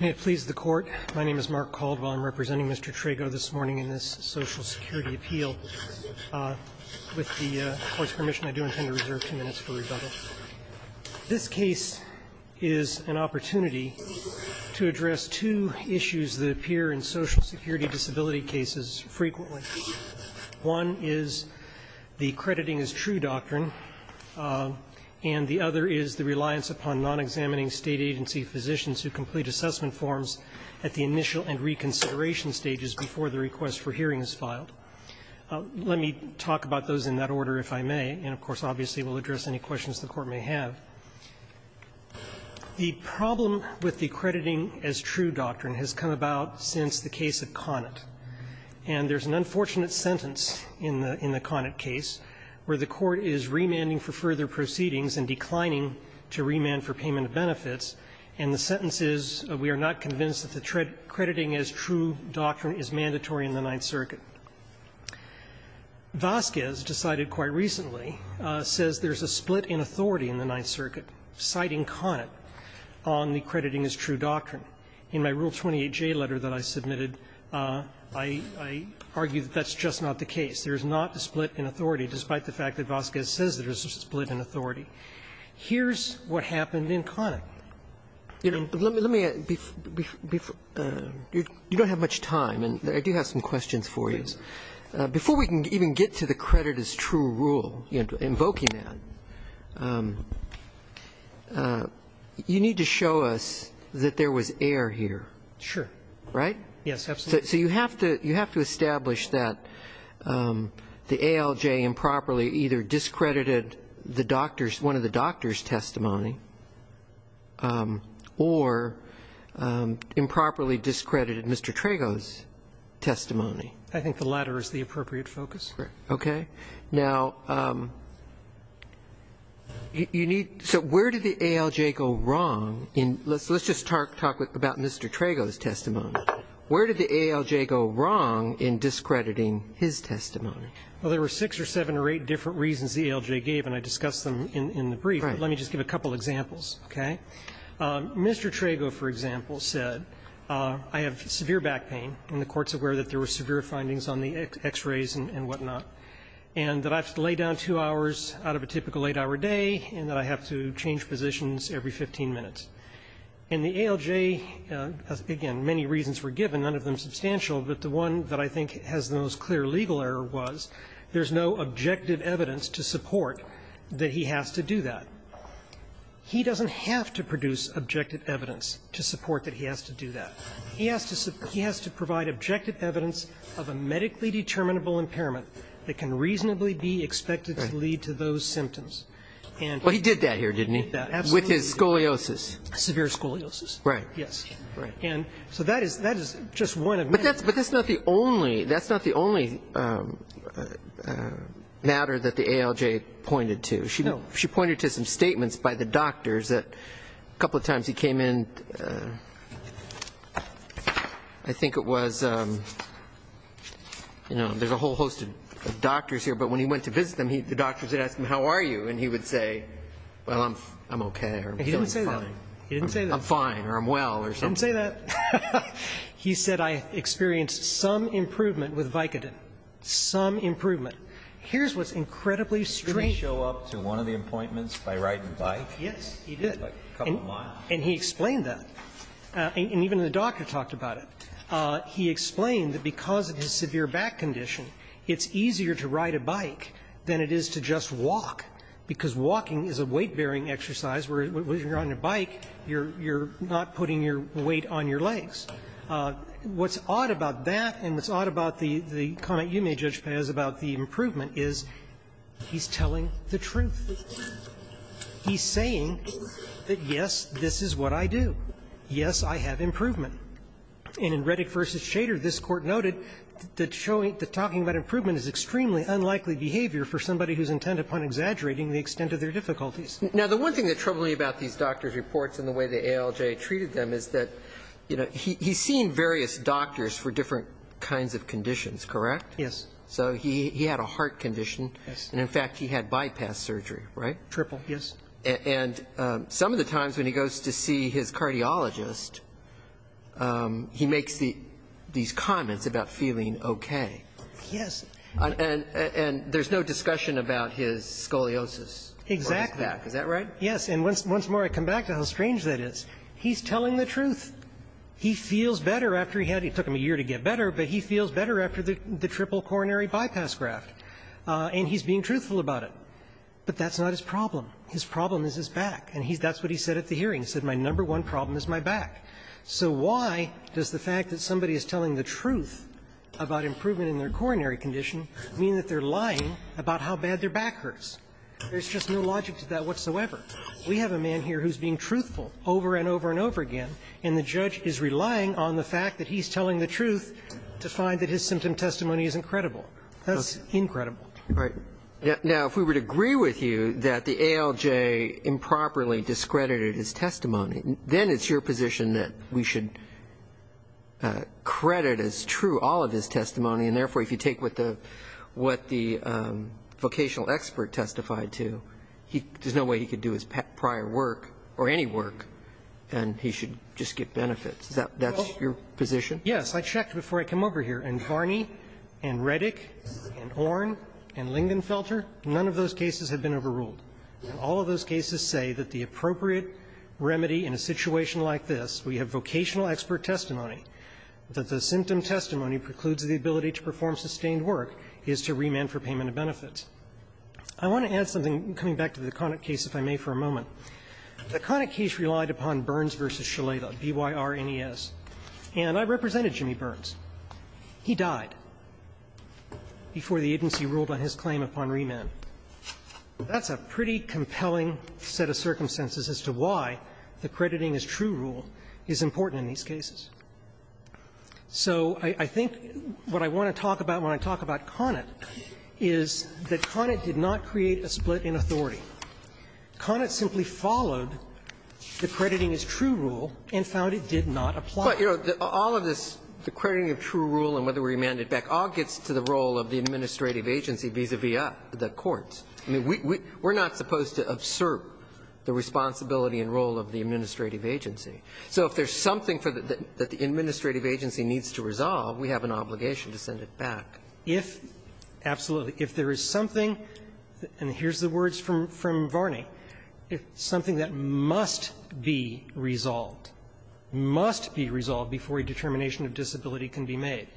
May it please the Court. My name is Mark Caldwell. I'm representing Mr. Trego this morning in this Social Security appeal. With the Court's permission, I do intend to reserve two minutes for rebuttal. This case is an opportunity to address two issues that appear in Social Security disability cases frequently. One is the crediting-as-true doctrine, and the other is the reliance upon non-examining State agency physicians who complete assessment forms at the initial and reconsideration stages before the request for hearing is filed. Let me talk about those in that order if I may, and of course, obviously, we'll address any questions the Court may have. The problem with the crediting-as-true doctrine has come about since the case of Conant. And there's an unfortunate sentence in the Conant case where the Court is remanding for further proceedings and declining to remand for payment of benefits. And the sentence is we are not convinced that the crediting-as-true doctrine is mandatory in the Ninth Circuit. Vasquez decided quite recently, says there's a split in authority in the Ninth Circuit citing Conant on the crediting-as-true doctrine. In my Rule 28J letter that I submitted, I argue that that's just not the case. There's not a split in authority, despite the fact that Vasquez says there's a split in authority. Here's what happened in Conant. You know, let me be you don't have much time, and I do have some questions for you. Before we can even get to the credit-as-true rule, invoking that, you need to show us that there was error here. Sure. Right? Yes, absolutely. So you have to establish that the ALJ improperly either discredited the doctor's one of the doctor's testimony, or improperly discredited Mr. Trago's testimony. I think the latter is the appropriate focus. Okay. Now, you need so where did the ALJ go wrong? Let's just talk about Mr. Trago's testimony. Where did the ALJ go wrong in discrediting his testimony? Well, there were six or seven or eight different reasons the ALJ gave, and I discussed them in the brief. Right. Let me just give a couple of examples, okay? Mr. Trago, for example, said, I have severe back pain, and the Court's aware that there were severe findings on the X-rays and whatnot, and that I have to lay down two hours out of a typical eight-hour day, and that I have to change positions every 15 minutes. And the ALJ, again, many reasons were given, none of them substantial, but the one that I think has the most clear legal error was there's no objective evidence to support that he has to do that. He doesn't have to produce objective evidence to support that he has to do that. He has to provide objective evidence of a medically determinable impairment that can reasonably be expected to lead to those symptoms. Right. Well, he did that here, didn't he? He did that, absolutely. With his scoliosis. Severe scoliosis. Right. Yes. Right. And so that is just one of many. But that's not the only matter that the ALJ pointed to. No. She pointed to some statements by the doctors that a couple of times he came in, I think it was, you know, there's a whole host of doctors here, but when he went to visit them, the doctors would ask him, how are you? And he would say, well, I'm okay or I'm feeling fine. He didn't say that. He didn't say that. I'm fine or I'm well or something. He didn't say that. He said I experienced some improvement with Vicodin, some improvement. Here's what's incredibly strange. Did he show up to one of the appointments by riding a bike? Yes, he did. A couple of miles. And he explained that. And even the doctor talked about it. He explained that because of his severe back condition, it's easier to ride a bike than it is to just walk, because walking is a weight-bearing exercise where when you're on your bike, you're not putting your weight on your legs. What's odd about that and what's odd about the comment you made, Judge Paz, about the improvement is he's telling the truth. He's saying that, yes, this is what I do. Yes, I have improvement. And in Reddick v. Shader, this Court noted that talking about improvement is extremely unlikely behavior for somebody who's intent upon exaggerating the extent of their difficulties. Now, the one thing that troubles me about these doctor's reports and the way the ALJ treated them is that, you know, he's seen various doctors for different kinds of conditions, correct? So he had a heart condition. Yes. And, in fact, he had bypass surgery, right? Triple, yes. And some of the times when he goes to see his cardiologist, he makes these comments about feeling okay. Yes. And there's no discussion about his scoliosis. Exactly. Is that right? Yes. And once more I come back to how strange that is. He's telling the truth. He feels better after he had it. It took him a year to get better, but he feels better after the triple coronary bypass graft. And he's being truthful about it. But that's not his problem. His problem is his back. And that's what he said at the hearing. He said, my number one problem is my back. So why does the fact that somebody is telling the truth about improvement in their coronary condition mean that they're lying about how bad their back hurts? There's just no logic to that whatsoever. We have a man here who's being truthful over and over and over again, and the judge is relying on the fact that he's telling the truth to find that his symptom testimony isn't credible. That's incredible. Right. Now, if we would agree with you that the ALJ improperly discredited his testimony, then it's your position that we should credit as true all of his testimony, and therefore if you take what the vocational expert testified to, there's no way he could do his prior work or any work, and he should just get benefits. That's your position? Yes. I checked before I came over here, and Varney and Reddick and Orn and Lingenfelter, none of those cases have been overruled. All of those cases say that the appropriate remedy in a situation like this, we have vocational expert testimony, that the symptom testimony precludes the ability to perform sustained work is to remand for payment of benefits. I want to add something, coming back to the Connick case, if I may, for a moment. The Connick case relied upon Burns v. Shaleta, B-Y-R-N-E-S. And I represented Jimmy Burns. He died before the agency ruled on his claim upon remand. That's a pretty compelling set of circumstances as to why the crediting-as-true rule is important in these cases. So I think what I want to talk about when I talk about Connick is that Connick did not create a split in authority. Connick simply followed the crediting-as-true rule and found it did not apply. But, you know, all of this, the crediting-as-true rule and whether we remand it back, all gets to the role of the administrative agency vis-a-vis the courts. I mean, we're not supposed to absorb the responsibility and role of the administrative agency. So if there's something that the administrative agency needs to resolve, we have an obligation to send it back. If there is something, and here's the words from Varney, something that must be resolved, must be resolved before a determination of disability can be made.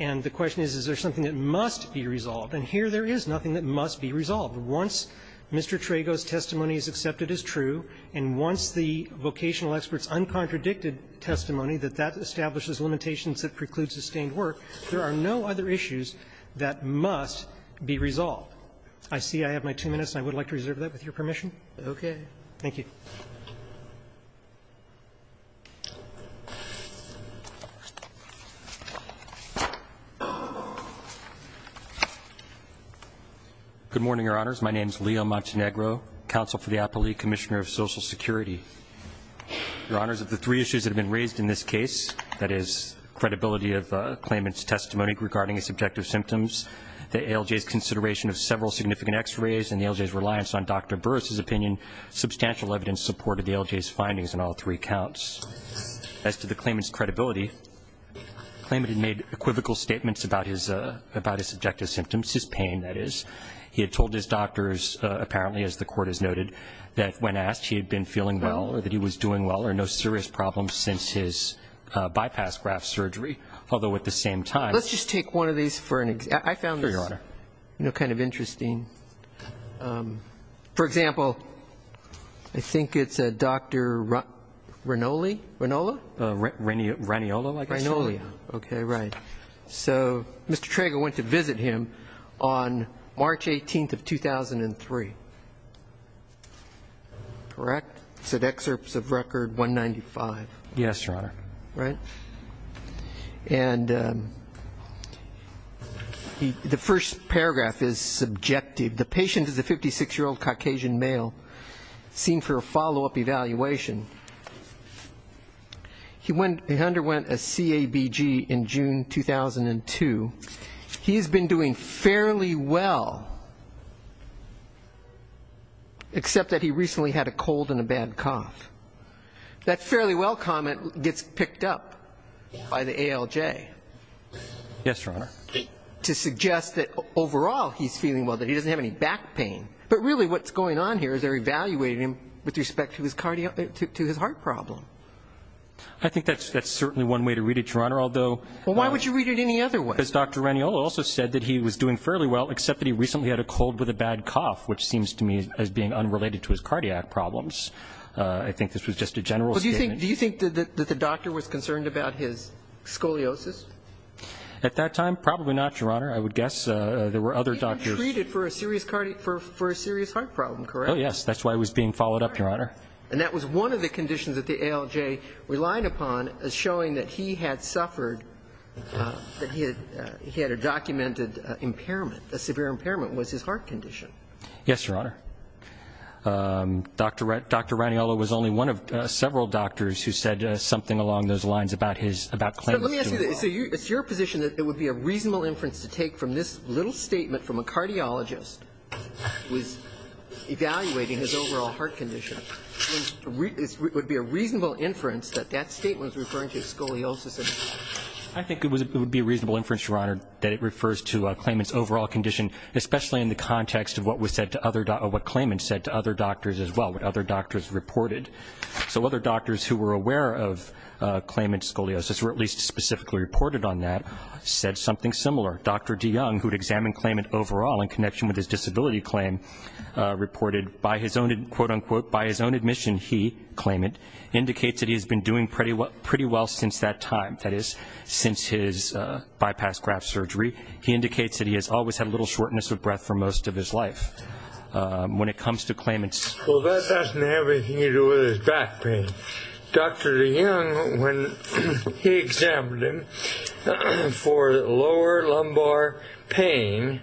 And the question is, is there something that must be resolved? And here there is nothing that must be resolved. Once Mr. Trago's testimony is accepted as true, and once the vocational expert's uncontradicted testimony that that establishes limitations that preclude sustained work, there are no other issues that must be resolved. I see I have my two minutes, and I would like to reserve that with your permission. Roberts. Thank you. Good morning, Your Honors. My name is Leo Montenegro, Counsel for the Appellee, Commissioner of Social Security. Your Honors, of the three issues that have been raised in this case, that is, credibility of claimant's testimony regarding his subjective symptoms, the ALJ's consideration of several significant x-rays, and the ALJ's reliance on Dr. Klayman's support of the ALJ's findings in all three counts, as to the claimant's credibility, the claimant had made equivocal statements about his subjective symptoms, his pain, that is. He had told his doctors, apparently, as the Court has noted, that when asked, he had been feeling well, or that he was doing well, or no serious problems since his bypass graft surgery, although at the same time Let's just take one of these for an example. I found this kind of interesting. For example, I think it's a Dr. Ranoli, Ranola? Raniola, I guess. Ranola, okay, right. So, Mr. Trager went to visit him on March 18th of 2003, correct? He said excerpts of record 195. Yes, Your Honor. Right? And the first paragraph is subjective. The patient is a 56-year-old Caucasian male, seen for a follow-up evaluation. He underwent a CABG in June 2002. He's been doing fairly well, except that he recently had a cold and a bad cough. That fairly well comment gets picked up by the ALJ. Yes, Your Honor. To suggest that overall he's feeling well, that he doesn't have any back pain. But really what's going on here is they're evaluating him with respect to his heart problem. I think that's certainly one way to read it, Your Honor, although- Well, why would you read it any other way? Because Dr. Raniola also said that he was doing fairly well, except that he recently had a cold with a bad cough, which seems to me as being unrelated to his cardiac problems. I think this was just a general statement. Do you think that the doctor was concerned about his scoliosis? At that time, probably not, Your Honor. I would guess there were other doctors- He had been treated for a serious heart problem, correct? Oh, yes. That's why he was being followed up, Your Honor. And that was one of the conditions that the ALJ relied upon as showing that he had suffered- that he had a documented impairment, a severe impairment, was his heart condition. Yes, Your Honor. Dr. Raniola was only one of several doctors who said something along those lines about his- Let me ask you this. It's your position that it would be a reasonable inference to take from this little statement from a cardiologist who is evaluating his overall heart condition. It would be a reasonable inference that that statement was referring to scoliosis. I think it would be a reasonable inference, Your Honor, that it refers to a claimant's overall condition, especially in the context of what was said to other- or what claimants said to other doctors as well, what other doctors reported. So other doctors who were aware of claimant scoliosis, or at least specifically reported on that, said something similar. Dr. DeYoung, who had examined claimant overall in connection with his disability claim reported, by his own- quote, unquote, by his own admission, he, claimant, indicates that he has been doing pretty well since that time. That is, since his bypass graft surgery. He indicates that he has always had a little shortness of breath for most of his life. When it comes to claimants- Well, that doesn't have anything to do with his back pain. Dr. DeYoung, when he examined him for lower lumbar pain,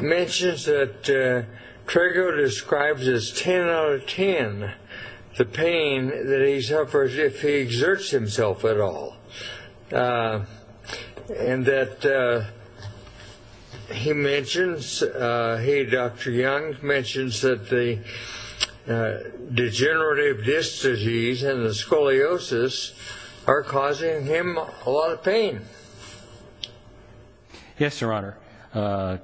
mentions that Trego describes as 10 out of 10 the pain that he suffers if he exerts himself at all. And that he mentions- He, Dr. Young, mentions that the degenerative disc disease and the scoliosis are causing him a lot of pain. Yes, Your Honor.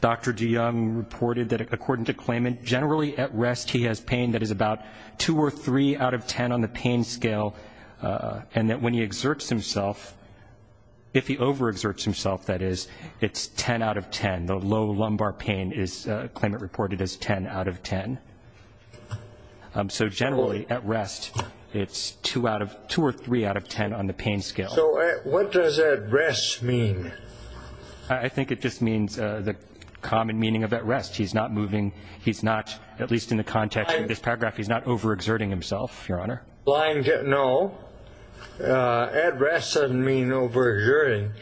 Dr. DeYoung reported that according to claimant, generally at rest he has pain that is about 2 or 3 out of 10 on the pain scale. And that when he exerts himself, if he overexerts himself, that is, it's 10 out of 10. The low lumbar pain is, claimant reported, as 10 out of 10. So generally, at rest, it's 2 or 3 out of 10 on the pain scale. So what does at rest mean? I think it just means the common meaning of at rest. He's not moving, he's not, at least in the context of this paragraph, he's not overexerting himself, Your Honor. No. At rest doesn't mean overexerting.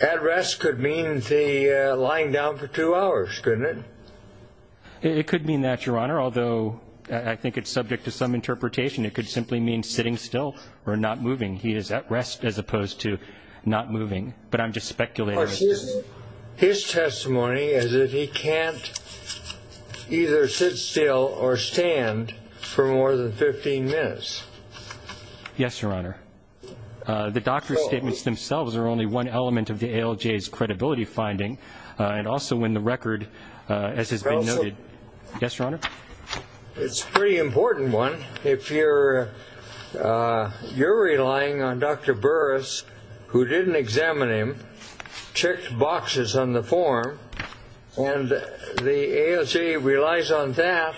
At rest could mean the lying down for two hours, couldn't it? It could mean that, Your Honor, although I think it's subject to some interpretation. It could simply mean sitting still or not moving. He is at rest as opposed to not moving. But I'm just speculating. His testimony is that he can't either sit still or stand for more than 15 minutes. Yes, Your Honor. The doctor's statements themselves are only one element of the ALJ's credibility finding and also in the record, as has been noted. Yes, Your Honor. It's a pretty important one. If you're relying on Dr. Burris, who didn't examine him, checked boxes on the form, and the ALJ relies on that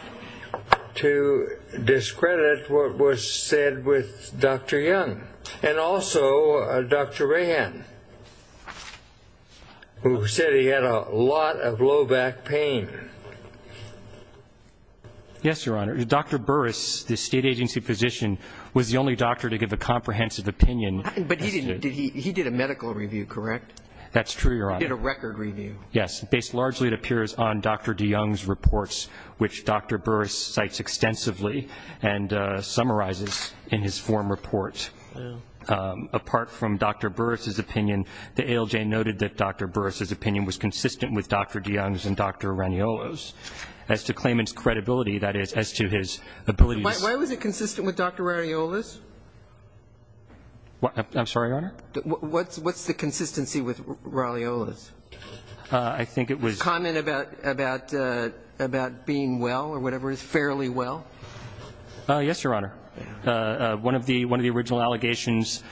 to discredit what was said with Dr. Young. And also Dr. Rahan, who said he had a lot of low back pain. Yes, Your Honor. Dr. Burris, the state agency physician, was the only doctor to give a comprehensive opinion. But he did a medical review, correct? That's true, Your Honor. He did a record review. Yes. Based largely, it appears, on Dr. de Young's reports, which Dr. Burris cites extensively and summarizes in his form report. Apart from Dr. Burris's opinion, the ALJ noted that Dr. Burris's opinion was consistent with Dr. de Young's and Dr. Raniola's. As to claimant's credibility, that is, as to his ability to... Why was it consistent with Dr. Raniola's? I'm sorry, Your Honor? What's the consistency with Raniola's? I think it was... Comment about being well or whatever, fairly well? Yes, Your Honor. One of the original allegations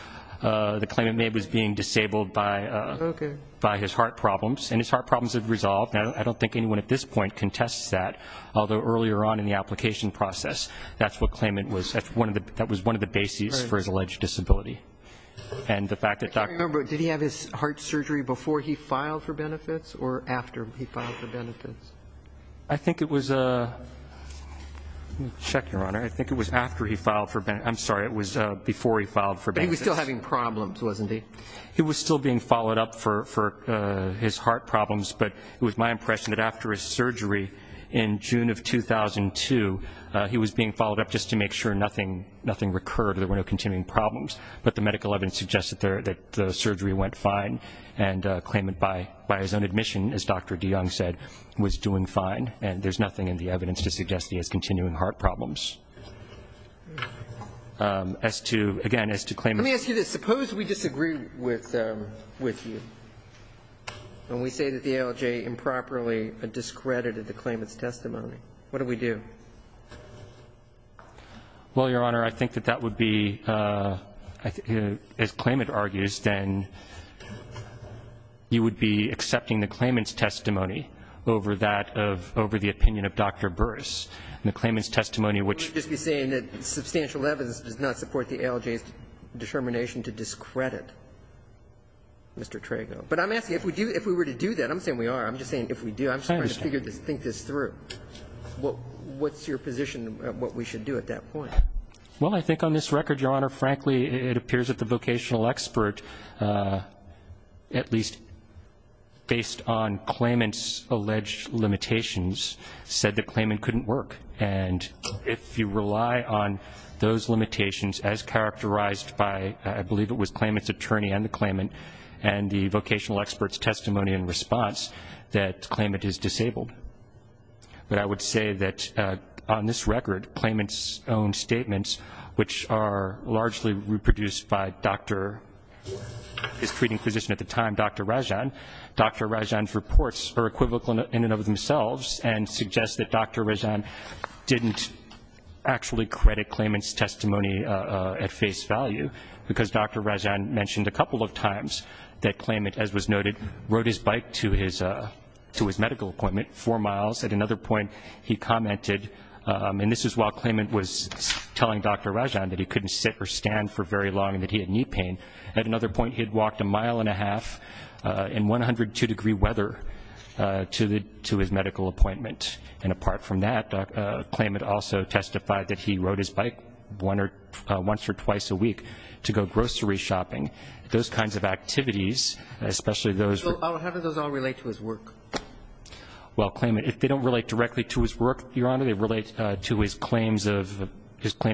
the claimant made was being disabled by his heart problems. And his heart problems have resolved. I don't think anyone at this point contests that. Although, earlier on in the application process, that was one of the bases for his alleged disability. And the fact that... Did he have his heart surgery before he filed for benefits or after he filed for benefits? I think it was... I'm sorry, it was before he filed for benefits. But he was still having problems, wasn't he? He was still being followed up for his heart problems, but it was my impression that after his surgery in June of 2002, he was being followed up just to make sure nothing recurred, there were no continuing problems. But the medical evidence suggested that the surgery went fine and claimant, by his own admission, as Dr. de Young said, was doing fine. And there's nothing in the evidence to suggest he has continuing heart problems. As to... Again, as to claim... Let me ask you this. Suppose we disagree with you and we say that the ALJ improperly discredited the claimant's testimony. What do we do? Well, Your Honor, I think that that would be... As claimant argues, then you would be accepting the claimant's testimony over the opinion of Dr. Burris. And the claimant's testimony, which... You would just be saying that substantial evidence does not support the ALJ's determination to discredit Mr. Trago. But I'm asking, if we were to do that... I'm not saying we are, I'm just saying if we do, I'm just trying to think this through. What's your position on what we should do at that point? Well, I think on this record, Your Honor, frankly, it appears that the vocational expert, at least based on claimant's alleged limitations, said the claimant couldn't work. And if you rely on those limitations, as characterized by, I believe it was, claimant's attorney and the claimant and the vocational expert's testimony and response, that claimant is disabled. But I would say that, on this record, claimant's own statements, which are largely reproduced by his treating physician at the time, Dr. Rajan, Dr. Rajan's reports are equivocal in and of themselves and suggest that Dr. Rajan didn't actually credit claimant's testimony at face value. Because Dr. Rajan mentioned a couple of times that claimant, as was noted, rode his bike to his medical appointment four miles. At another point, he commented, and this is while claimant was telling Dr. Rajan that he couldn't sit or stand for very long and that he had knee pain. At another point, he had walked a mile and a half in 102-degree weather to his medical appointment. And apart from that, claimant also testified that he rode his bike once or twice a week to go grocery shopping. Those kinds of activities, especially those... How do those all relate to his work? Well, claimant, if they don't relate directly to his work, they relate to his claims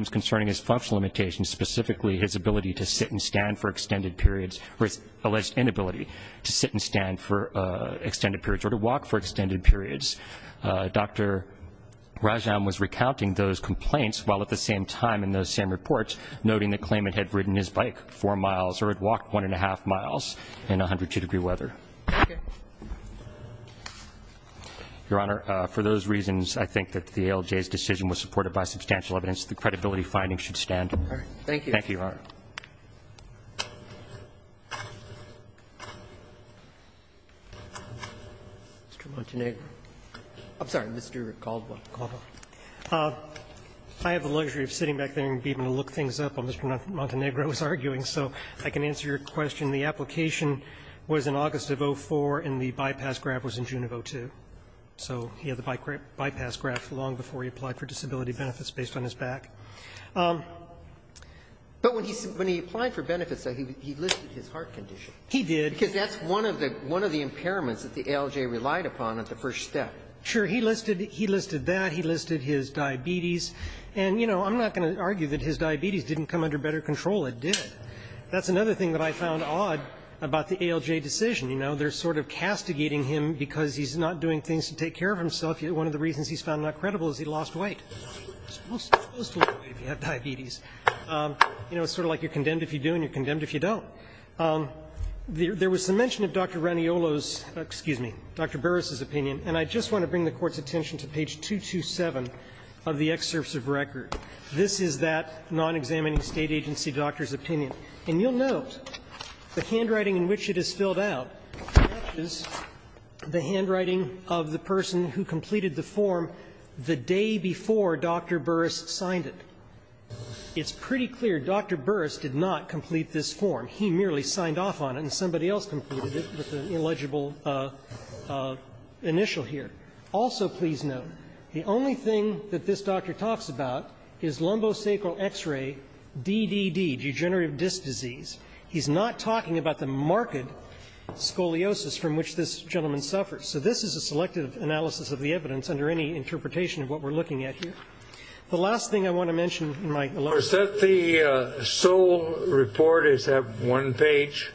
concerning his functional limitations, specifically his ability to sit and stand for extended periods or his alleged inability to sit and stand for extended periods or to walk for extended periods. Dr. Rajan was recounting those complaints while at the same time in those same reports, noting that claimant had ridden his bike four miles or had walked one and a half miles in 102-degree weather. Your Honor, for those reasons, I think that the ALJ's decision was supported by substantial evidence. The credibility findings should stand. Thank you. Thank you, Your Honor. Mr. Montenegro. I'm sorry, Mr. Caldwell. I have the luxury of sitting back there and being able to look things up while Mr. Montenegro is arguing, so I can answer your question. The application was in August of 2004 and the bypass grab was in June of 2002. So he had the bypass grab long before he applied for disability benefits based on his back. But when he applied for benefits, he listed his heart condition. He did. Because that's one of the impairments that the ALJ relied upon at the first step. Sure. He listed that. He listed his diabetes. And, you know, I'm not going to argue that his diabetes didn't come under better control. It did. That's another thing that I found odd about the ALJ decision. You know, they're sort of castigating him because he's not doing things to take care of himself. One of the reasons he's found not credible is he lost weight. You're supposed to lose weight if you have diabetes. You know, it's sort of like you're condemned if you do and you're condemned if you don't. There was some mention of Dr. Raniolo's, excuse me, Dr. Burris's opinion. And I just want to bring the Court's attention to page 227 of the excerpts of record. This is that non-examining State agency doctor's opinion. And you'll note the handwriting in which it is filled out matches the handwriting of the person who completed the form the day before Dr. Burris signed it. It's pretty clear Dr. Burris did not complete this form. He merely signed off on it and somebody else completed it with an illegible initial here. the only thing that this doctor talks about is lumbosacral X-ray, DDD, degenerative disc disease. He's not talking about the marked scoliosis from which this gentleman suffers. So this is a selective analysis of the evidence under any interpretation of what we're looking at here. The last thing I want to mention Is that the sole report? Is that one page?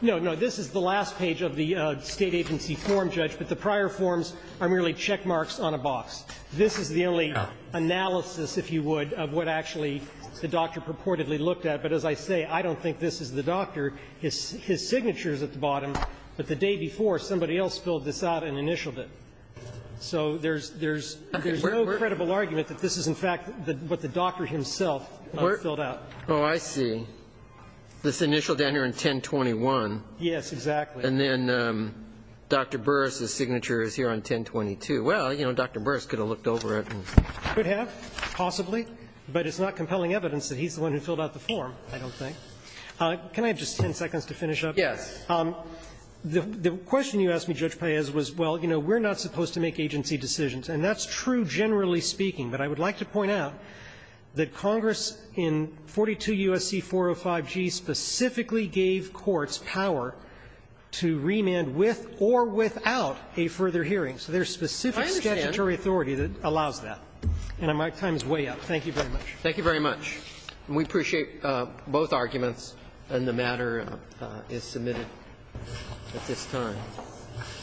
No, no. This is the last page of the State agency form, Judge. But the prior forms are merely check marks on a box. This is the only analysis, if you would, of what actually the doctor purportedly looked at. But as I say, I don't think this is the doctor. His signature's at the bottom. But the day before, somebody else filled this out and initialed it. So there's no credible argument that this is, in fact, what the doctor himself filled out. Oh, I see. This initial down here on 1021. Yes, exactly. And then Dr. Burris's signature is here on 1022. Well, you know, Dr. Burris could have looked over it. He could have, possibly. But it's not compelling evidence that he's the one who filled out the form, I don't think. Can I have just 10 seconds to finish up? Yes. The question you asked me, Judge Paez, was, well, you know, we're not supposed to make agency decisions. And that's true, generally speaking. But I would like to point out that Congress in 42 U.S.C. 405G specifically gave courts power to remand with or without a further hearing. So there's specific statutory authority that allows that. And my time is way up. Thank you very much. Thank you very much. And we appreciate both arguments. And the matter is submitted at this time.